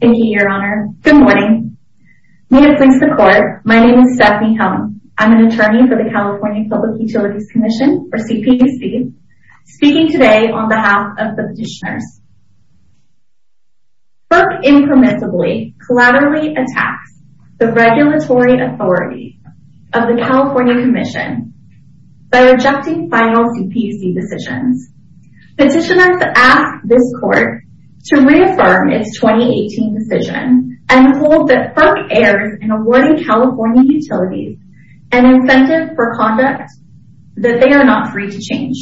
Thank you, Your Honor. Good morning. May it please the Court, my name is Stephanie Helm. I'm an attorney for the California Public Utilities Commission, or CPUC, speaking today on behalf of the petitioners. FERC impermissibly, collaterally attacks the regulatory authority of the California Commission by rejecting final CPUC decisions. Petitioners ask this Court to reaffirm its 2018 decision and hold that FERC errs in awarding California utilities an incentive for conduct that they are not free to change.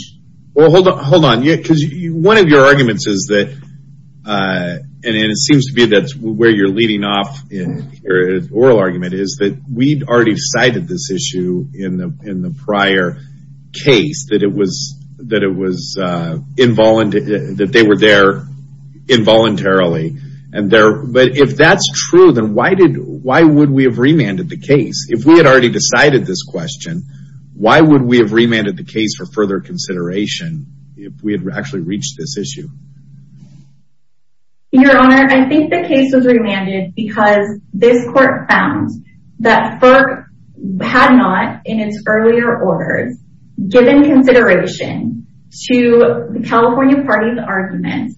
Hold on, because one of your arguments is that, and it seems to be where you're leading off in your oral argument, is that we'd already cited this issue in the prior case, that they were there involuntarily. But if that's true, then why would we have remanded the case? If we had already decided this question, why would we have remanded the case for further consideration if we had actually reached this issue? Your Honor, I think the case was remanded because this Court found that FERC had not, in its earlier orders, given consideration to the California Party's argument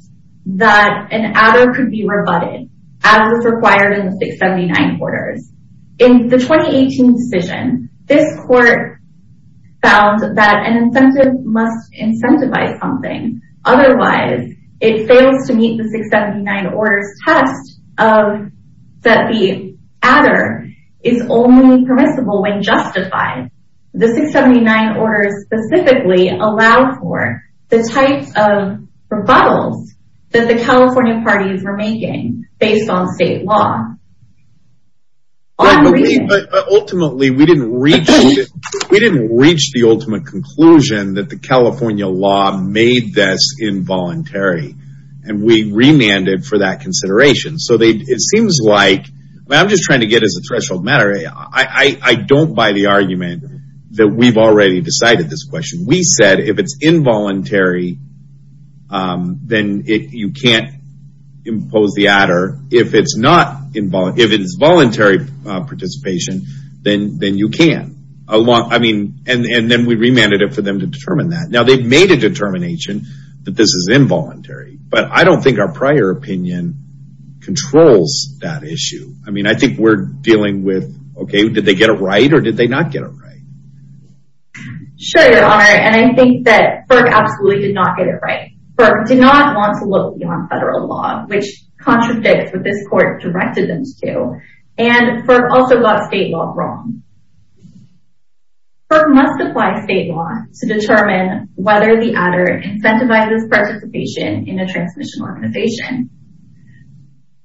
that an adder could be rebutted, as was required in the 679 Orders. In the 2018 decision, this Court found that an incentive must incentivize something. Otherwise, it fails to meet the 679 Orders' test that the adder is only permissible when justified. The 679 Orders specifically allowed for the types of rebuttals that the California parties were making based on state law. Ultimately, we didn't reach the ultimate conclusion that the California law made this involuntary. And we remanded for that consideration. I'm just trying to get as a threshold matter. I don't buy the argument that we've already decided this question. We said if it's involuntary, then you can't impose the adder. If it's voluntary participation, then you can. And then we remanded it for them to determine that. Now, they've made a determination that this is involuntary. But I don't think our prior opinion controls that issue. I mean, I think we're dealing with, okay, did they get it right or did they not get it right? Sure, Your Honor. And I think that FERC absolutely did not get it right. FERC did not want to look beyond federal law, which contradicts what this Court directed them to do. And FERC also got state law wrong. FERC must apply state law to determine whether the adder incentivizes participation in a transmission organization.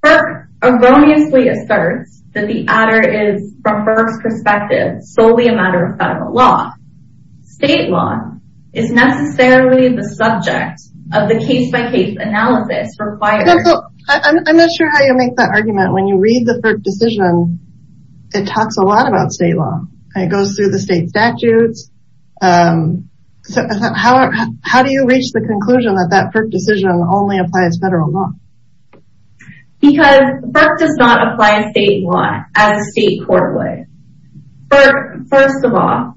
FERC erroneously asserts that the adder is, from FERC's perspective, solely a matter of federal law. State law is necessarily the subject of the case-by-case analysis required. I'm not sure how you make that argument. When you read the FERC decision, it talks a lot about state law. It goes through the state statutes. How do you reach the conclusion that that FERC decision only applies federal law? Because FERC does not apply state law as a state court would. FERC, first of all,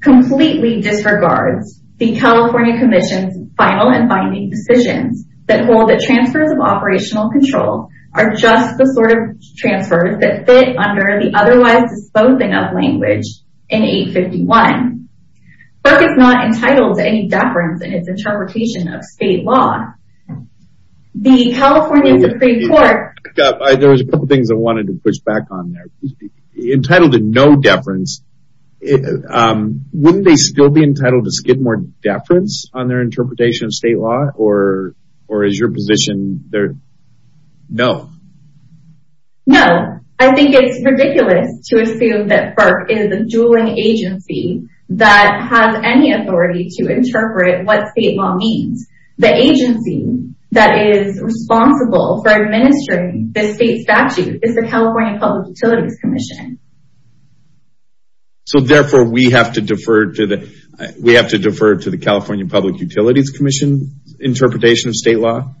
completely disregards the California Commission's final and binding decisions that hold that transfers of operational control are just the sort of transfers that fit under the otherwise-disposed-of language in 851. FERC is not entitled to any deference in its interpretation of state law. The California Supreme Court— There were a couple of things I wanted to push back on there. Entitled to no deference, wouldn't they still be entitled to skid more deference on their interpretation of state law? Or is your position, no? No. I think it's ridiculous to assume that FERC is a dueling agency that has any authority to interpret what state law means. The agency that is responsible for administering this state statute is the California Public Utilities Commission. So therefore, we have to defer to the California Public Utilities Commission's interpretation of state law?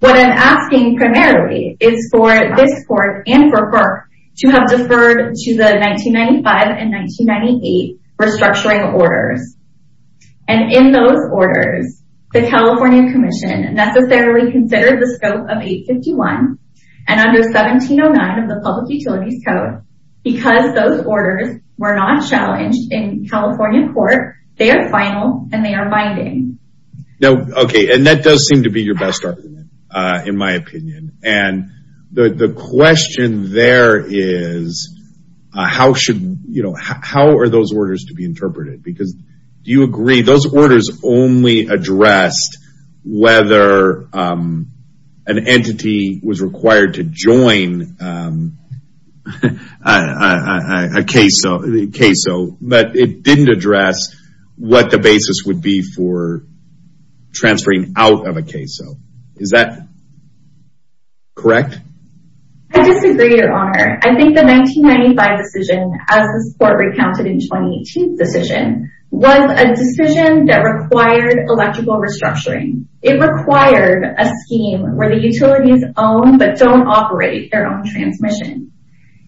What I'm asking primarily is for this court and for FERC to have deferred to the 1995 and 1998 restructuring orders. And in those orders, the California Commission necessarily considered the scope of 851 and under 1709 of the Public Utilities Code. Because those orders were not challenged in California court, they are final and they are binding. Okay. And that does seem to be your best argument, in my opinion. And the question there is, how are those orders to be interpreted? Because do you agree those orders only addressed whether an entity was required to join a CAISO, but it didn't address what the basis would be for transferring out of a CAISO. Is that correct? I disagree, Your Honor. I think the 1995 decision, as this court recounted in the 2018 decision, was a decision that required electrical restructuring. It required a scheme where the utilities own but don't operate their own transmission.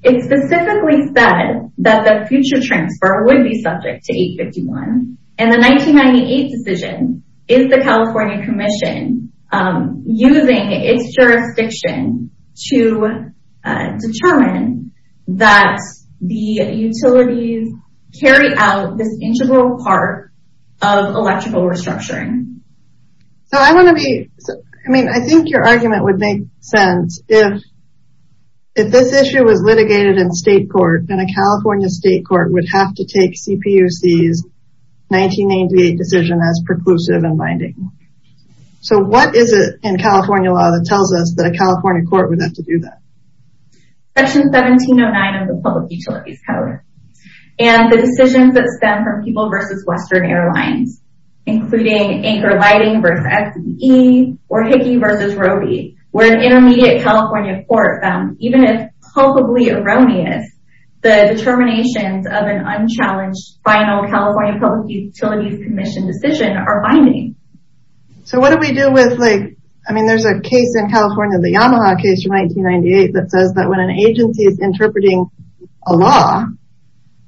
It specifically said that the future transfer would be subject to 851. And the 1998 decision is the California Commission using its jurisdiction to determine that the utilities carry out this integral part of electrical restructuring. I think your argument would make sense if this issue was litigated in state court, and a California state court would have to take CPUC's 1988 decision as preclusive and binding. So what is it in California law that tells us that a California court would have to do that? Section 1709 of the Public Utilities Code. And the decisions that stem from People v. Western Airlines, including Anchor Lighting v. FBE or Hickey v. Robey, where an intermediate California court found, even if culpably erroneous, the determinations of an unchallenged final California Public Utilities Commission decision are binding. So what do we do with, like, I mean, there's a case in California, the Yamaha case from 1998, that says that when an agency is interpreting a law,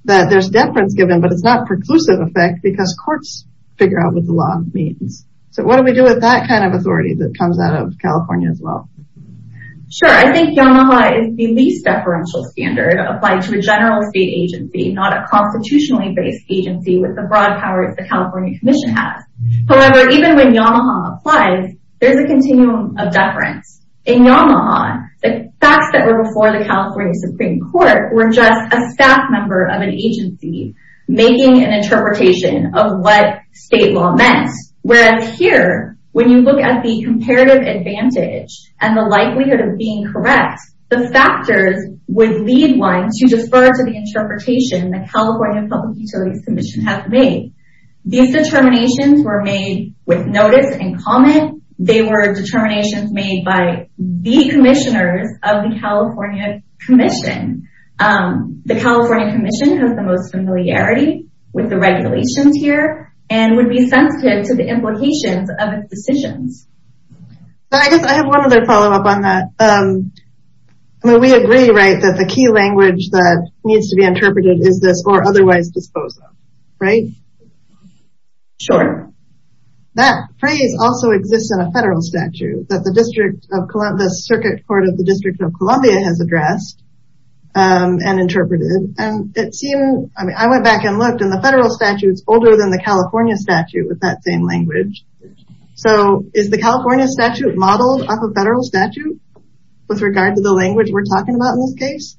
that there's deference given, but it's not preclusive effect because courts figure out what the law means. So what do we do with that kind of authority that comes out of California as well? Sure, I think Yamaha is the least deferential standard applied to a general state agency, not a constitutionally based agency with the broad powers the California Commission has. However, even when Yamaha applies, there's a continuum of deference. In Yamaha, the facts that were before the California Supreme Court were just a staff member of an agency making an interpretation of what state law meant. Whereas here, when you look at the comparative advantage and the likelihood of being correct, the factors would lead one to defer to the interpretation the California Public Utilities Commission has made. These determinations were made with notice and comment. They were determinations made by the commissioners of the California Commission. The California Commission has the most familiarity with the regulations here and would be sensitive to the implications of its decisions. I guess I have one other follow-up on that. I mean, we agree, right, that the key language that needs to be interpreted is this, or otherwise dispose of, right? Sure. That phrase also exists in a federal statute that the Circuit Court of the District of Columbia has addressed and interpreted. And it seemed, I mean, I went back and looked, and the federal statute's older than the California statute with that same language. So is the California statute modeled off a federal statute with regard to the language we're talking about in this case?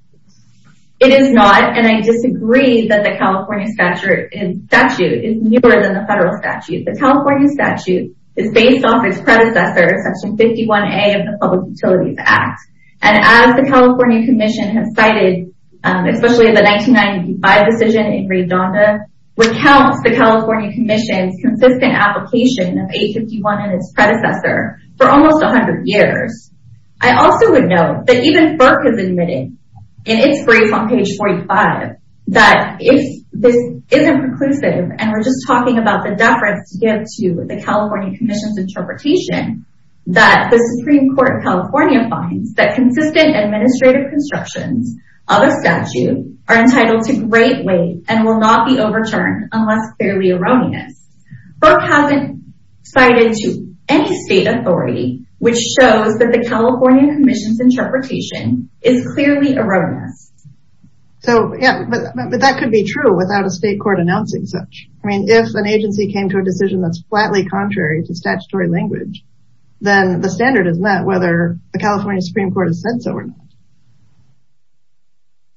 It is not, and I disagree that the California statute is newer than the federal statute. The California statute is based off its predecessor, Section 51A of the Public Utilities Act. And as the California Commission has cited, especially the 1995 decision in Redonda, recounts the California Commission's consistent application of 851 and its predecessor for almost 100 years. I also would note that even FERC has admitted, in its brief on page 45, that if this isn't preclusive, and we're just talking about the deference to give to the California Commission's interpretation, that the Supreme Court of California finds that consistent administrative constructions of a statute are entitled to great weight and will not be overturned unless fairly erroneous. FERC hasn't cited to any state authority which shows that the California Commission's interpretation is clearly erroneous. But that could be true without a state court announcing such. I mean, if an agency came to a decision that's flatly contrary to statutory language, then the standard is met whether the California Supreme Court has said so or not.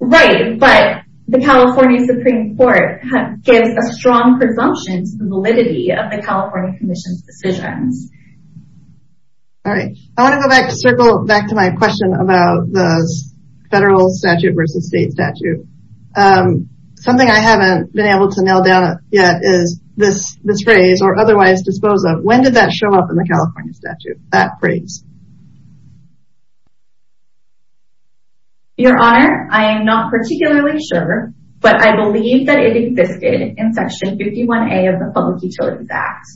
Right, but the California Supreme Court gives a strong presumption to the validity of the California Commission's decisions. All right, I want to circle back to my question about the federal statute versus state statute. Something I haven't been able to nail down yet is this phrase, or otherwise dispose of, when did that show up in the California statute, that phrase? Your Honor, I am not particularly sure, but I believe that it existed in Section 51A of the Public Utilities Act.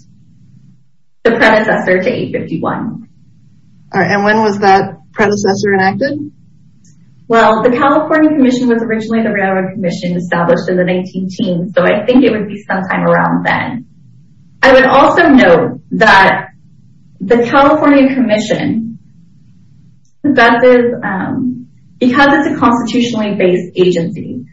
The predecessor to 851. All right, and when was that predecessor enacted? Well, the California Commission was originally the Railroad Commission established in the 1910s, so I think it would be sometime around then. I would also note that the California Commission, because it's a constitutionally based agency,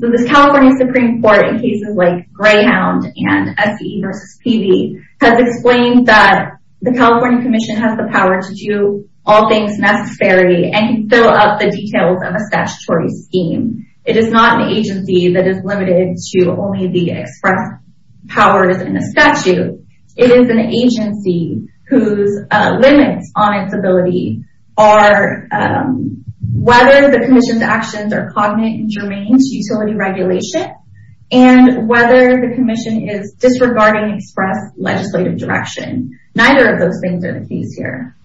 so the California Supreme Court in cases like Greyhound and S.E. versus P.B. has explained that the California Commission has the power to do all things necessary and can fill out the details of a statutory scheme. It is not an agency that is limited to only the express powers in a statute. It is an agency whose limits on its ability are whether the commission's actions are cognate and germane to utility regulation and whether the commission is disregarding express legislative direction. Neither of those things are the case here.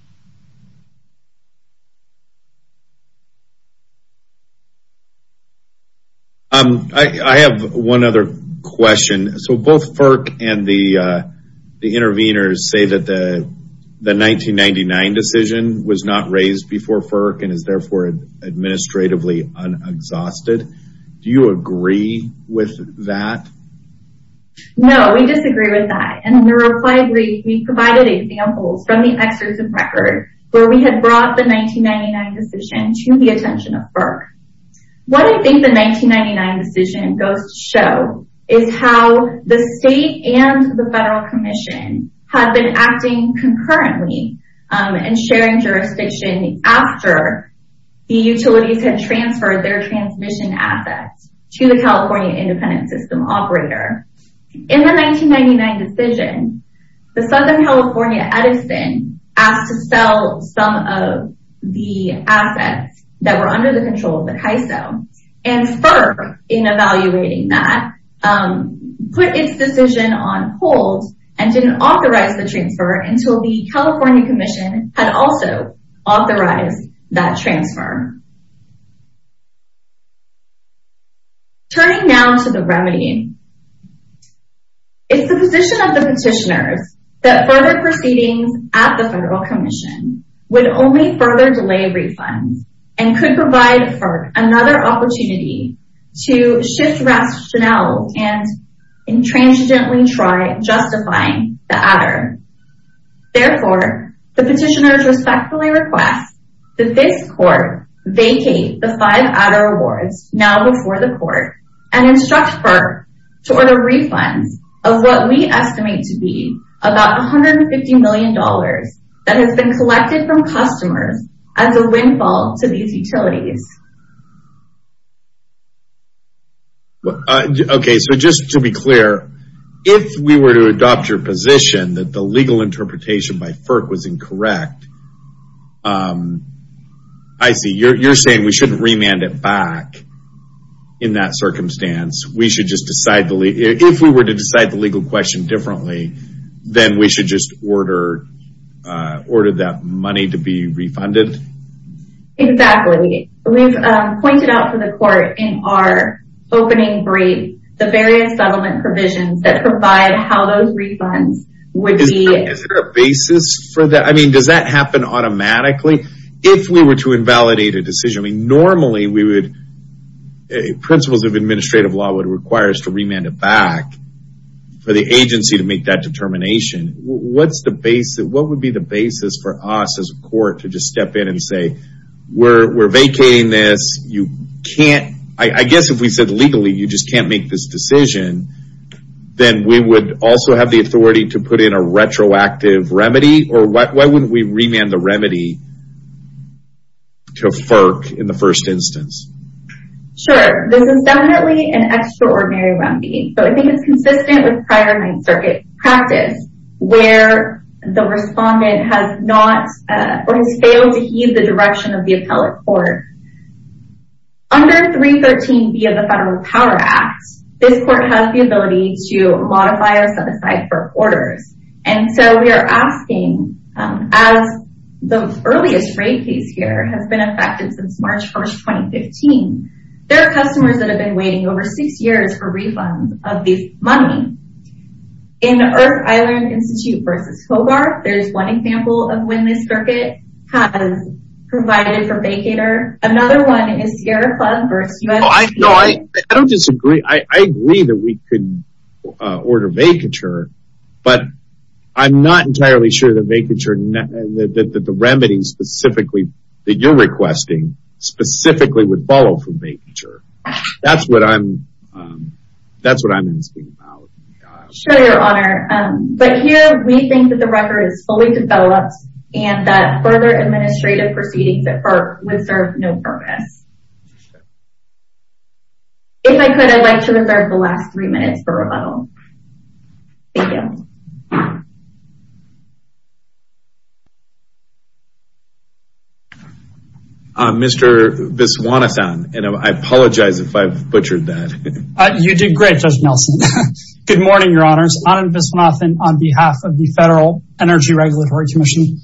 I have one other question. Both FERC and the intervenors say that the 1999 decision was not raised before FERC and is therefore administratively un-exhausted. Do you agree with that? No, we disagree with that. In the reply brief, we provided examples from the exertion record where we had brought the 1999 decision to the attention of FERC. What I think the 1999 decision goes to show is how the state and the federal commission have been acting concurrently and sharing jurisdiction after the utilities had transferred their transmission assets to the California independent system operator. In the 1999 decision, the Southern California Edison asked to sell some of the assets that were under the control of the CAISO. And FERC, in evaluating that, put its decision on hold and didn't authorize the transfer until the California commission had also authorized that transfer. Turning now to the remedy. It's the position of the petitioners that further proceedings at the federal commission would only further delay refunds and could provide FERC another opportunity to shift rationale and intransigently try justifying the adder. Therefore, the petitioners respectfully request that this court vacate the five adder awards now before the court and instruct FERC to order refunds of what we estimate to be about $150 million that has been collected from customers as a windfall to these utilities. Okay, so just to be clear, if we were to adopt your position that the legal interpretation by FERC was incorrect, I see, you're saying we shouldn't remand it back in that circumstance. We should just decide, if we were to decide the legal question differently, then we should just order that money to be refunded? Exactly. We've pointed out to the court in our opening brief the various settlement provisions that provide how those refunds would be... Is there a basis for that? I mean, does that happen automatically? If we were to invalidate a decision, normally we would... principles of administrative law would require us to remand it back for the agency to make that determination. What would be the basis for us as a court to just step in and say, we're vacating this, you can't... I guess if we said legally you just can't make this decision, then we would also have the authority to put in a retroactive remedy? Or why wouldn't we remand the remedy to FERC in the first instance? Sure, this is definitely an extraordinary remedy. But I think it's consistent with prior Ninth Circuit practice where the respondent has not or has failed to heed the direction of the appellate court. Under 313B of the Federal Power Act, this court has the ability to modify or set aside for quarters. And so we are asking, as the earliest rate case here has been affected since March 1st, 2015, there are customers that have been waiting over six years for refunds of this money. In Earth Island Institute v. Hobart, there's one example of when this circuit has provided for vacater. Another one is Sierra Club v. US... No, I don't disagree. I agree that we can order vacature, but I'm not entirely sure that vacature... that the remedy specifically that you're requesting specifically would follow for vacature. That's what I'm... That's what I'm asking about. Sure, Your Honor. But here we think that the record is fully developed and that further administrative proceedings at FERC would serve no purpose. If I could, I'd like to reserve the last three minutes for rebuttal. Thank you. Mr. Viswanathan, and I apologize if I've butchered that. You did great, Judge Nelson. Good morning, Your Honors. Anand Viswanathan on behalf of the Federal Energy Regulatory Commission.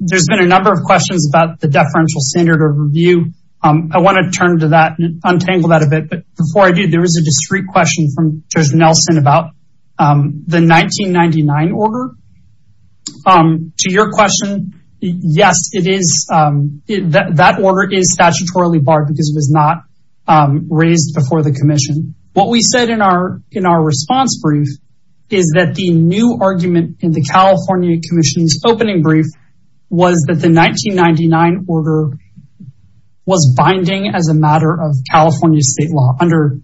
There's been a number of questions about the deferential standard of review. I want to turn to that and untangle that a bit. But before I do, there was a discreet question from Judge Nelson about the deferential standard of review. The 1999 order, to your question, yes, it is. That order is statutorily barred because it was not raised before the commission. What we said in our response brief is that the new argument in the California Commission's opening brief was that the 1999 order was binding as a matter of California state law under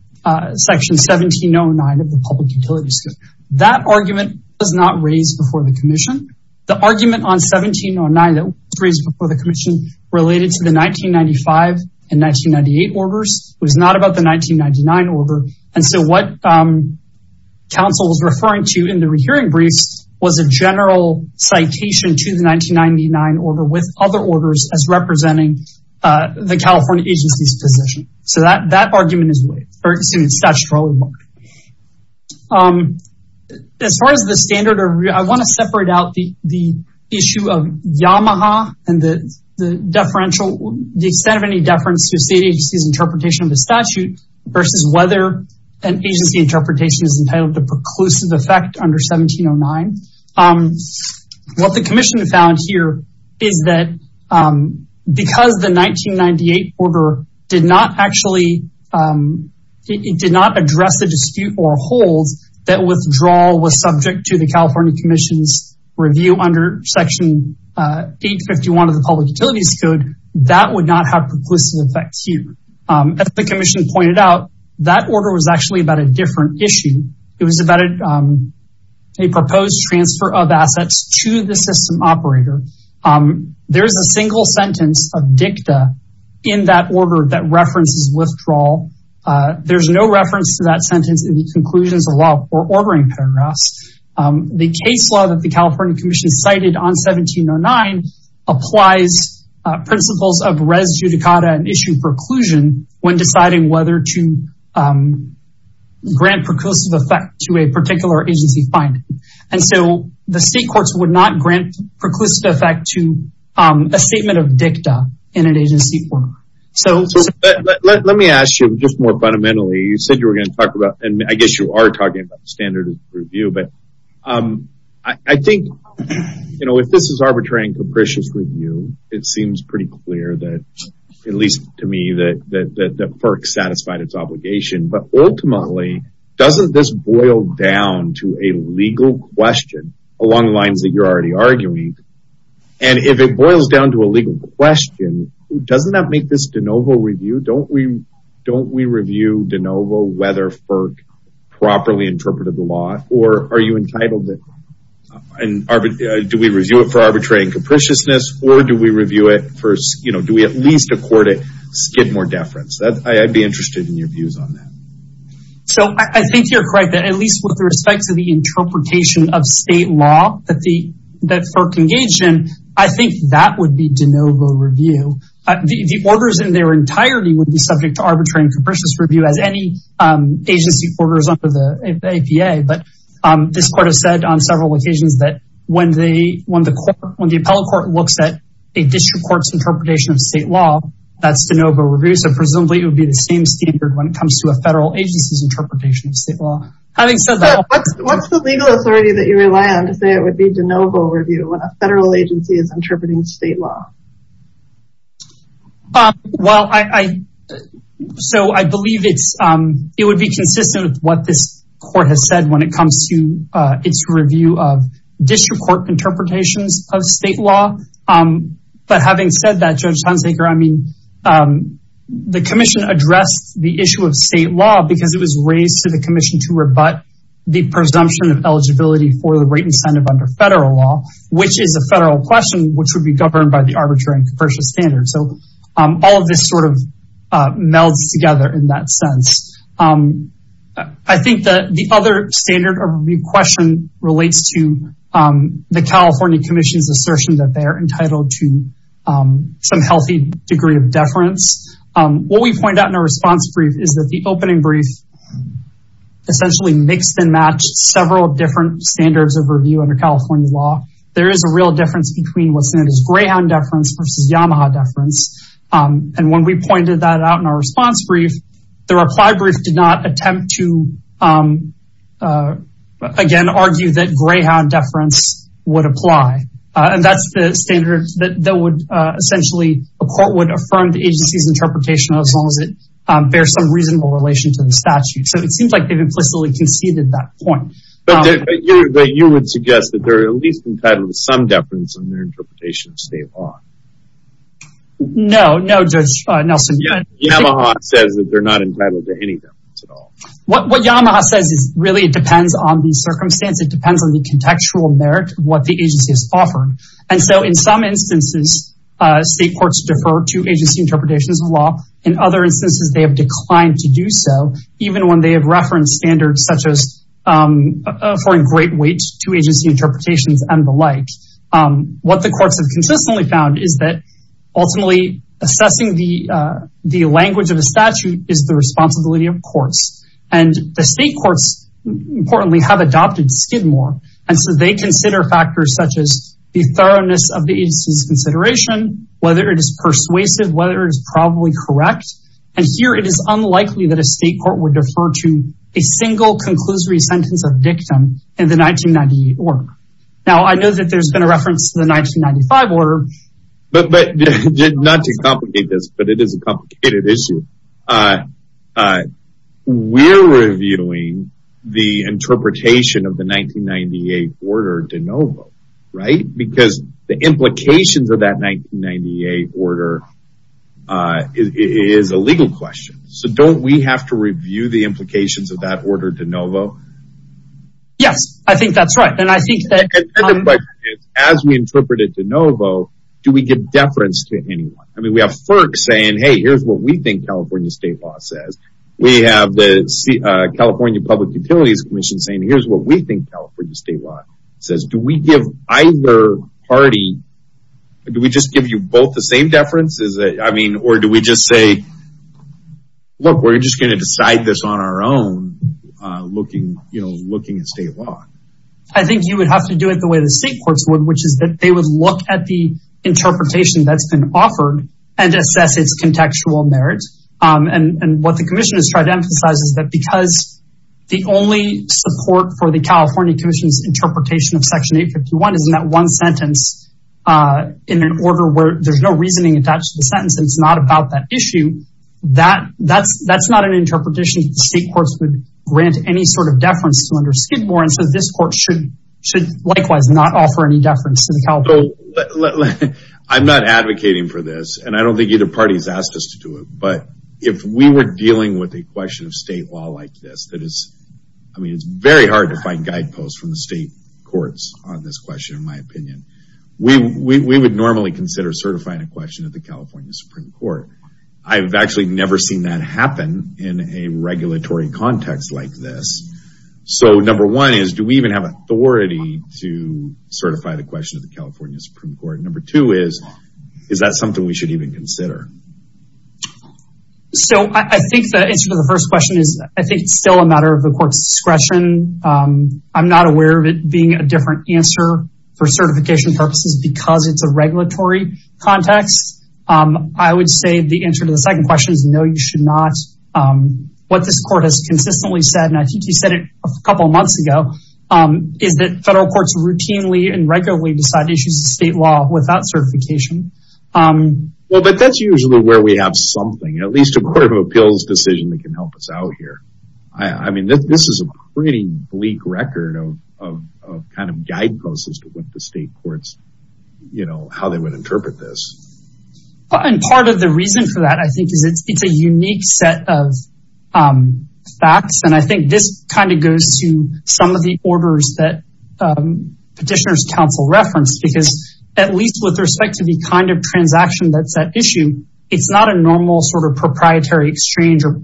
Section 1709 of the Public Utilities Code. That argument was not raised before the commission. The argument on 1709 that was raised before the commission related to the 1995 and 1998 orders. It was not about the 1999 order. And so what counsel was referring to in the rehearing briefs was a general citation to the 1999 order with other orders as representing the California agency's position. So that argument is statutorily barred. As far as the standard of review, I want to separate out the issue of Yamaha and the extent of any deference to a state agency's interpretation of the statute versus whether an agency interpretation is entitled to preclusive effect under 1709. What the commission found here is that because the 1998 order did not actually, it did not address the dispute or hold that withdrawal was subject to the California Commission's review under Section 851 of the Public Utilities Code, that would not have preclusive effect here. As the commission pointed out, that order was actually about a different issue. It was about a proposed transfer of assets to the system operator. There's a single sentence of dicta in that order that references withdrawal. There's no reference to that sentence in the conclusions of law or ordering paragraphs. The case law that the California Commission cited on 1709 applies principles of res judicata and issue preclusion when deciding whether to grant preclusive effect to a particular agency finding. The state courts would not grant preclusive effect to a statement of dicta in an agency. Let me ask you just more fundamentally, you said you were going to talk about, and I guess you are talking about the standard of review, but I think if this is arbitrary and capricious review, it seems pretty clear that, at least to me, that FERC satisfied its obligation. But ultimately, doesn't this boil down to a legal question along the lines that you're already arguing? And if it boils down to a legal question, doesn't that make this de novo review? Don't we review de novo whether FERC properly interpreted the law? Or are you entitled to it? Do we review it for arbitrary and capriciousness, or do we at least accord it skid more deference? I'd be interested in your views on that. So I think you're correct that at least with respect to the interpretation of state law that FERC engaged in, I think that would be de novo review. The orders in their entirety would be subject to arbitrary and capricious review as any agency orders under the APA. But this court has said on several occasions that when the appellate court looks at a district court's interpretation of state law, that's de novo review. So presumably it would be the same standard when it comes to a federal agency's interpretation of state law. Having said that- What's the legal authority that you rely on to say it would be de novo review when a federal agency is interpreting state law? Well, so I believe it would be consistent with what this court has said when it comes to its review of district court interpretations of state law. But having said that, Judge Hunsaker, I mean, the commission addressed the issue of state law because it was raised to the commission to rebut the presumption of eligibility for the rate incentive under federal law, which is a federal question, which would be governed by the arbitrary and capricious standard. So all of this sort of melds together in that sense. I think the other standard of question relates to the California Commission's view that states are entitled to some healthy degree of deference. What we point out in our response brief is that the opening brief essentially mixed and matched several different standards of review under California law. There is a real difference between what's known as greyhound deference versus Yamaha deference. And when we pointed that out in our response brief, the reply brief did not attempt to, again, argue that greyhound deference would apply. And that's the standard that essentially a court would affirm the agency's interpretation as long as it bears some reasonable relation to the statute. So it seems like they've implicitly conceded that point. But you would suggest that they're at least entitled to some deference in their interpretation of state law. No, no, Judge Nelson. Yamaha says that they're not entitled to any deference at all. What Yamaha says is really it depends on the circumstance. It depends on the contextual merit of what the agency has offered. And so in some instances, state courts defer to agency interpretations of law. In other instances, they have declined to do so, even when they have referenced standards such as affording great weight to agency interpretations and the like. What the courts have consistently found is that ultimately assessing the language of a statute is the responsibility of courts. And the state courts, importantly, have adopted Skidmore. And so they consider factors such as the thoroughness of the agency's consideration, whether it is persuasive, whether it is probably correct. And here it is unlikely that a state court would defer to a single conclusory sentence of dictum in the 1998 order. Now, I know that there's been a reference to the 1995 order. But not to complicate this, but it is a complicated issue. We're reviewing the interpretation of the 1998 order de novo, right? Because the implications of that 1998 order is a legal question. So don't we have to review the implications of that order de novo? Yes, I think that's right. And I think that as we interpret it de novo, do we give deference to anyone? I mean, we have FERC saying, hey, here's what we think California state law says. We have the California Public Utilities Commission saying, here's what we think California state law says. Do we give either party, do we just give you both the same deference? Or do we just say, look, we're just going to decide this on our own looking at state law? I think you would have to do it the way the state courts would, which is that they would look at the interpretation that's been offered and assess its contextual merit. And what the commission has tried to emphasize is that because the only support for the California Commission's interpretation of Section 851 is in that one sentence in an order where there's no reasoning attached to the sentence, and it's not about that issue, that's not an interpretation that the state courts would grant any sort of deference to under Skidmore. And so this court should likewise not offer any deference to the California Commission. I'm not advocating for this. And I don't think either party has asked us to do it. But if we were dealing with a question of state law like this, I mean, it's very hard to find guideposts from the state courts on this question, in my opinion. We would normally consider certifying a question at the California Supreme Court. I've actually never seen that happen in a regulatory context like this. So number one is, do we even have authority to certify the question of the California Supreme Court? Number two is, is that something we should even consider? So I think the answer to the first question is I think it's still a matter of the court's discretion. I'm not aware of it being a different answer for certification purposes because it's a regulatory context. I would say the answer to the second question is no, you should not. What this court has consistently said, and I think you said it a couple of months ago, is that federal courts routinely and regularly decide issues of state law without certification. Well, but that's usually where we have something, at least a court of appeals decision that can help us out here. I mean, this is a pretty bleak record of kind of guideposts as to what the state courts, you know, how they would interpret this. And part of the reason for that, I think, is it's a unique set of facts. And I think this kind of goes to some of the orders that petitioners counsel referenced, because at least with respect to the kind of transaction that's at issue, it's not a normal sort of proprietary exchange or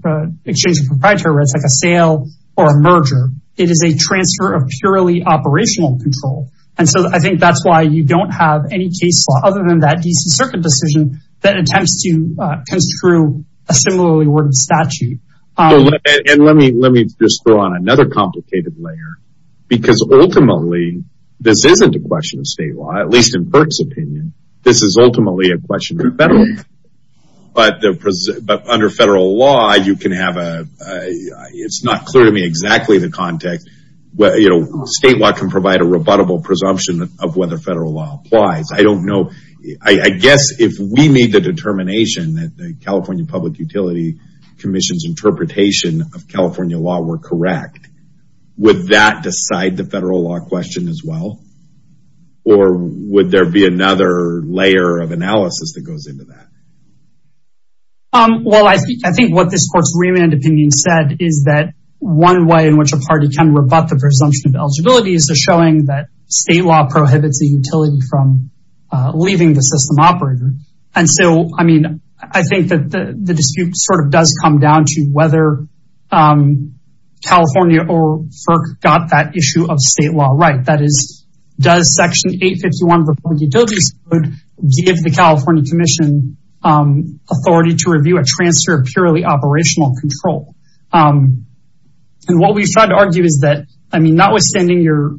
exchange of proprietary rights like a sale or a merger. It is a transfer of purely operational control. And so I think that's why you don't have any case law other than that D.C. Circuit decision that attempts to construe a similarly worded statute. And let me just throw on another complicated layer, because ultimately this isn't a question of state law, at least in Perk's opinion. This is ultimately a question of federal law. But under federal law, you can have a, it's not clear to me exactly the context, you know, state law can provide a rebuttable presumption of whether federal law applies. I don't know. I guess if we need the determination that the California Public Utility Commission's interpretation of California law were correct, would that decide the federal law question as well? Or would there be another layer of analysis that goes into that? Well, I think what this court's remand opinion said is that one way in which a party can rebut the presumption of eligibility is showing that state law prohibits the utility from leaving the system operator. And so, I mean, I think that the dispute sort of does come down to whether California or FERC got that issue of state law right. That is, does Section 851 of the Public Utilities Code give the California Commission authority to review a transfer of purely operational control? And what we've tried to argue is that, I mean, notwithstanding your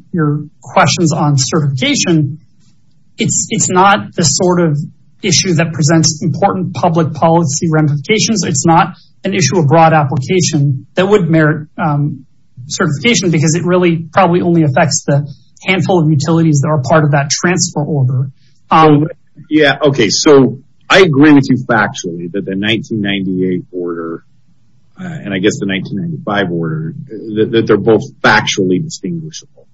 questions on certification, it's not the sort of issue that presents important public policy ramifications. It's not an issue of broad application that would merit certification because it really probably only affects the handful of utilities that are part of that transfer order. Yeah, okay, so I agree with you factually that the 1998 order, and I guess the 1995 order, that they're both factually distinguishable.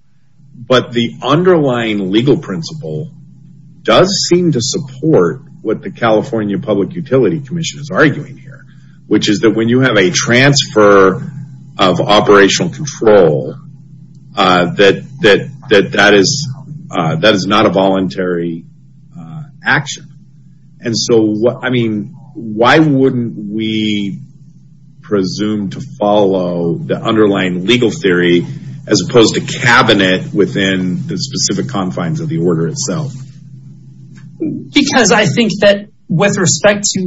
But the underlying legal principle does seem to support what the California Public Utility Commission is arguing here, which is that when you have a transfer of operational control, that that is not a voluntary action. And so, I mean, why wouldn't we presume to follow the underlying legal theory as opposed to cabinet within the specific confines of the order itself? Because I think that with respect to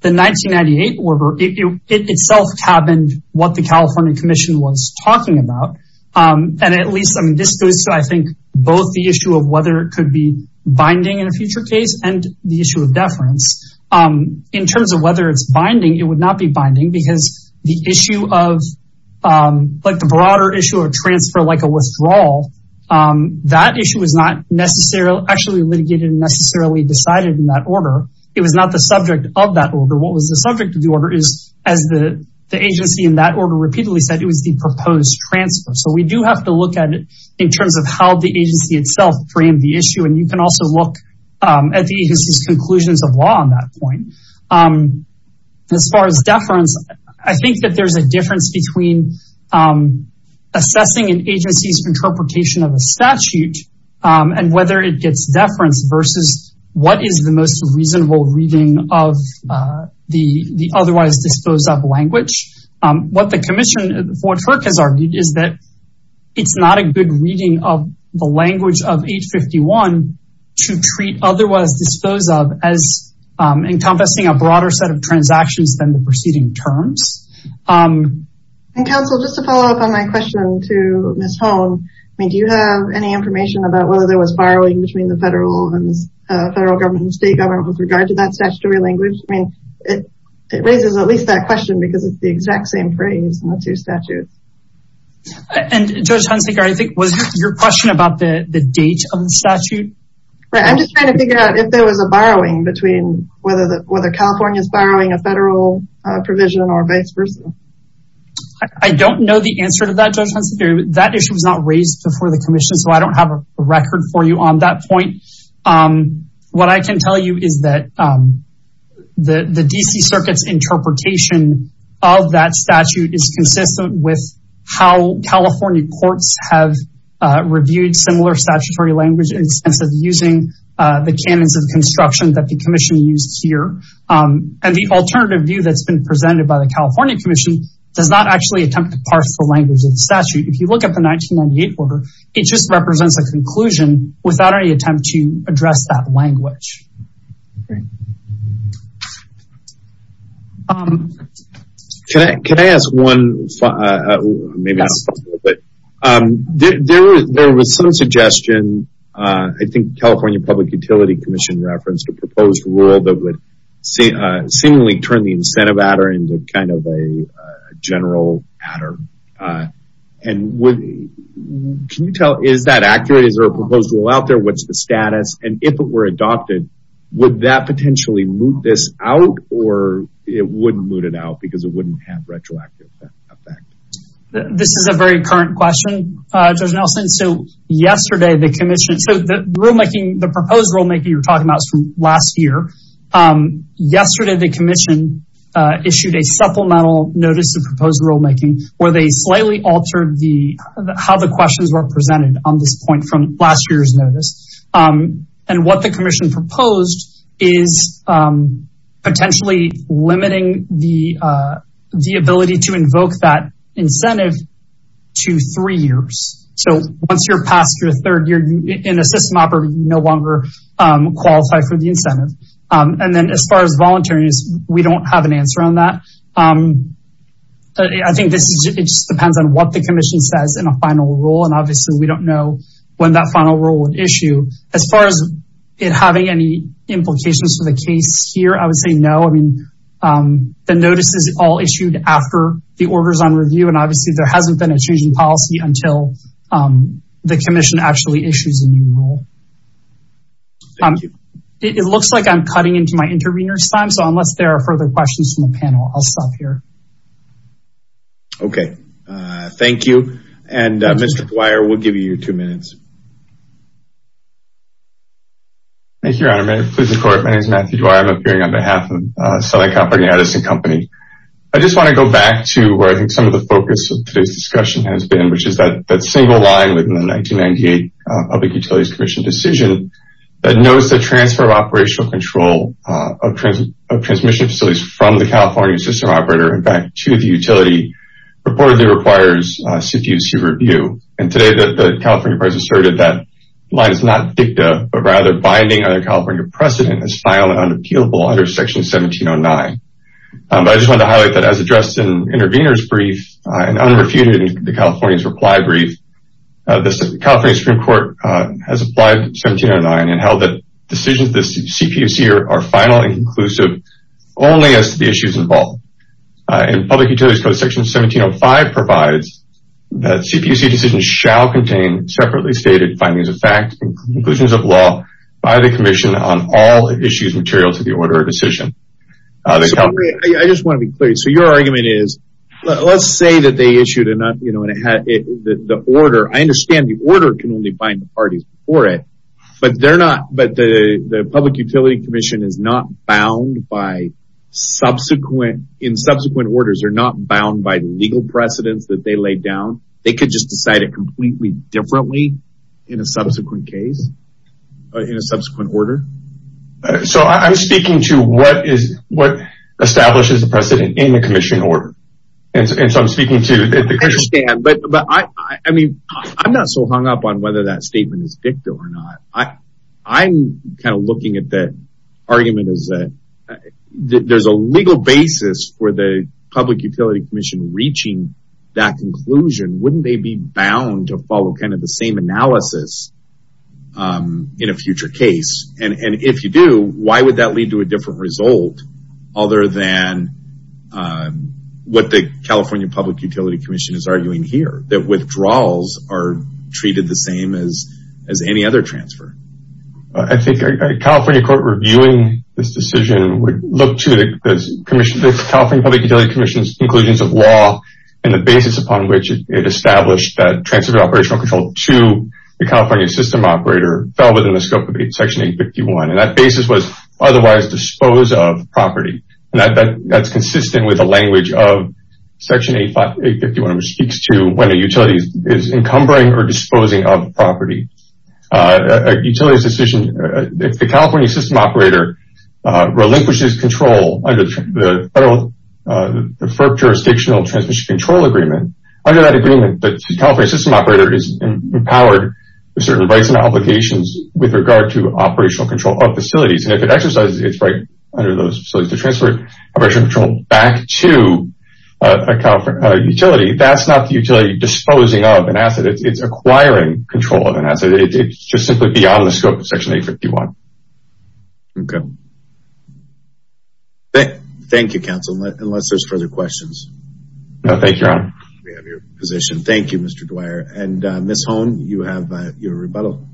the 1998 order, it itself cabined what the California Commission was talking about. And at least, I mean, this goes to, I think, both the issue of whether it could be binding in a future case and the issue of deference. In terms of whether it's binding, it would not be binding because the issue of, like the broader issue of transfer, like a withdrawal, that issue was not actually litigated and necessarily decided in that order. It was not the subject of that order. What was the subject of the order is, as the agency in that order repeatedly said, it was the proposed transfer. So we do have to look at it in terms of how the agency itself framed the issue. And you can also look at the agency's conclusions of law on that point. As far as deference, I think that there's a difference between assessing an agency's interpretation of a statute and whether it gets deference versus what is the most reasonable reading of the otherwise disposed of language. What the Commission, what FERC has argued is that it's not a good reading of the language of 851 to treat otherwise disposed of as encompassing a broader set of transactions than the preceding terms. And counsel, just to follow up on my question to Ms. Holm, I mean, do you have any information about whether there was borrowing between the federal government and state government with regard to that statutory language? I mean, it raises at least that question because it's the exact same phrase in the two statutes. And Judge Hunsaker, I think, was your question about the date of the statute? I'm just trying to figure out if there was a borrowing between whether California is borrowing a federal provision or vice versa. I don't know the answer to that, Judge Hunsaker. That issue was not raised before the Commission, so I don't have a record for you on that point. What I can tell you is that the D.C. Circuit's interpretation of that statute is consistent with how California courts have reviewed similar statutory language in the sense of using the canons of construction that the Commission used here. And the alternative view that's been presented by the California Commission does not actually attempt to parse the language of the statute. If you look at the 1998 order, it just represents a conclusion without any attempt to address that language. Can I ask one? There was some suggestion, I think California Public Utility Commission referenced a proposed rule that would seemingly turn the incentive adder into kind of a general adder. Can you tell, is that accurate? Is there a proposed rule out there? What's the status? And if it were adopted, would that potentially moot this out or it wouldn't moot it out because it wouldn't have retroactive effect? This is a very current question, Judge Nelson. The proposed rulemaking you're talking about is from last year. Yesterday, the Commission issued a supplemental notice of proposed rulemaking where they slightly altered how the questions were presented on this point from last year's notice. And what the Commission proposed is potentially limiting the ability to invoke that incentive to three years. So once you're past your third year in a system operative, you no longer qualify for the incentive. And then as far as volunteering, we don't have an answer on that. I think it just depends on what the Commission says in a final rule. And obviously, we don't know when that final rule would issue. As far as it having any implications for the case here, I would say no. The notice is all issued after the order is on review. And obviously, there hasn't been a change in policy until the Commission actually issues a new rule. It looks like I'm cutting into my intervener's time. So unless there are further questions from the panel, I'll stop here. Okay, thank you. And Mr. Dwyer, we'll give you two minutes. Thank you, Your Honor. Your Honor, may it please the Court. My name is Matthew Dwyer. I'm appearing on behalf of Southern California Edison Company. I just want to go back to where I think some of the focus of today's discussion has been, which is that single line within the 1998 Public Utilities Commission decision that notes the transfer of operational control of transmission facilities from the California system operator and back to the utility reportedly requires CPUs to review. And today, the California person asserted that line is not dicta, but rather binding on the California precedent as final and unappealable under Section 1709. But I just wanted to highlight that as addressed in the intervener's brief, and unrefuted in the California's reply brief, the California Supreme Court has applied 1709 and held that decisions of the CPUC are final and inclusive only as to the issues involved. And Public Utilities Code Section 1705 provides that CPUC decisions shall contain separately stated findings of fact and conclusions of law by the Commission on all issues material to the order of decision. I just want to be clear. So your argument is, let's say that they issued an order. I understand the order can only bind the parties before it, but the Public Utilities Commission is not bound by subsequent, in subsequent orders, they're not bound by legal precedents that they laid down. They could just decide it completely differently in a subsequent case, in a subsequent order. So I'm speaking to what establishes the precedent in the Commission order. And so I'm speaking to the Commission. I understand. But I mean, I'm not so hung up on whether that statement is fictive or not. I'm kind of looking at that argument is that there's a legal basis for the Public Utilities Commission reaching that conclusion. Wouldn't they be bound to follow kind of the same analysis in a future case? And if you do, why would that lead to a different result? Other than what the California Public Utilities Commission is arguing here, that withdrawals are treated the same as any other transfer. I think a California court reviewing this decision would look to the California Public Utilities Commission's conclusions of law and the basis upon which it established that transferred operational control to the California system operator fell within the scope of Section 851. And that basis was otherwise dispose of property. And that's consistent with the language of Section 851, which speaks to when a utility is encumbering or disposing of property. A utility's decision, if the California system operator relinquishes control under the federal jurisdictional transmission control agreement, under that agreement, the California system operator is empowered with certain rights and obligations with regard to operational control of facilities. And if it exercises its right under those facilities to transfer operational control back to a utility, that's not the utility disposing of an asset, it's acquiring control of an asset. It's just simply beyond the scope of Section 851. Okay. Thank you, counsel, unless there's further questions. No, thank you, Your Honor. We have your position. Thank you, Mr. Dwyer. And Ms. Holm, you have your rebuttal.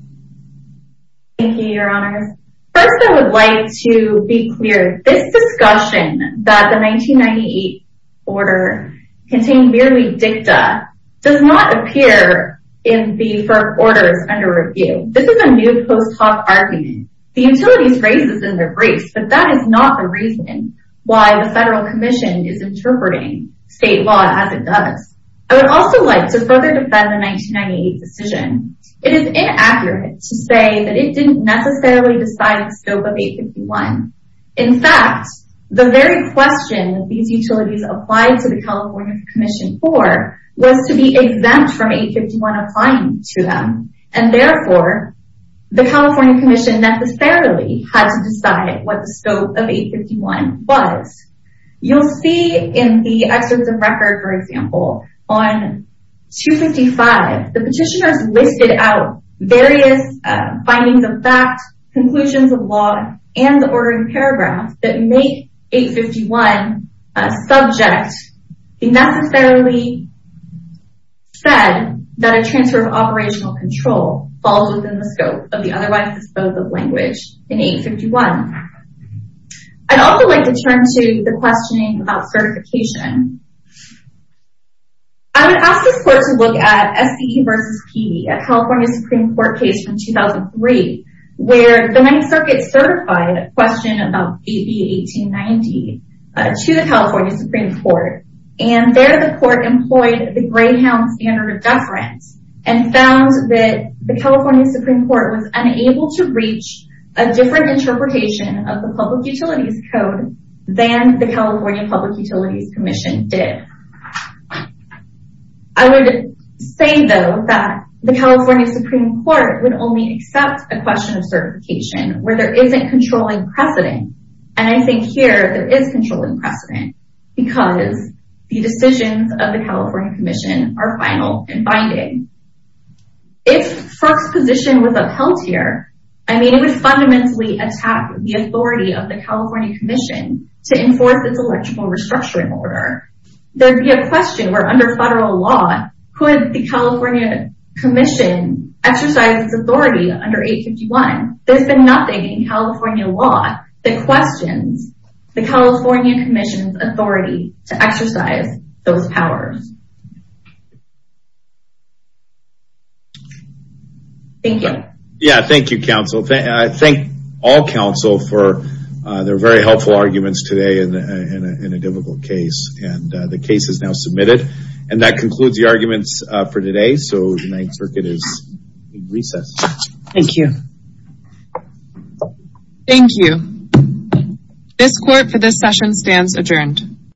Thank you, Your Honor. First, I would like to be clear. This discussion that the 1998 order contained merely dicta does not appear in the firm orders under review. This is a new post hoc argument. The utilities raised this in their briefs, but that is not the reason why the Federal Commission is interpreting state law as it does. I would also like to further defend the 1998 decision. It is inaccurate to say that it didn't necessarily decide the scope of 851. In fact, the very question these utilities applied to the California Commission for was to be exempt from 851 applying to them. And therefore, the California Commission necessarily had to decide what the scope of 851 was. You'll see in the excerpts of record, for example, on 255, the petitioners listed out various findings of fact, conclusions of law, and the ordering paragraph that make 851 subject be necessarily said that a transfer of operational control falls within the scope of the otherwise disposed of language in 851. I'd also like to turn to the questioning about certification. I would ask this court to look at SCE v. Peavey, a California Supreme Court case from 2003, where the Ninth Circuit certified a question about AB 1890 to the California Supreme Court. And there, the court employed the Greyhound standard of deference and found that the California Supreme Court was unable to reach a different interpretation of the public utilities code than the California Public Utilities Commission. I would say, though, that the California Supreme Court would only accept a question of certification where there isn't controlling precedent. And I think here, there is controlling precedent because the decisions of the California Commission are final and binding. If Fruch's position was upheld here, I mean, it would fundamentally attack the authority of the California Commission to enforce its electrical restructuring order. There would be a question where under federal law, could the California Commission exercise its authority under 851? There's been nothing in California law that questions the California Commission's authority to exercise those powers. Thank you. Yeah, thank you, counsel. Thank all counsel for their very helpful arguments today in a difficult case. And the case is now submitted. And that concludes the arguments for today. So the Ninth Circuit is in recess. Thank you. Thank you. This court for this session stands adjourned.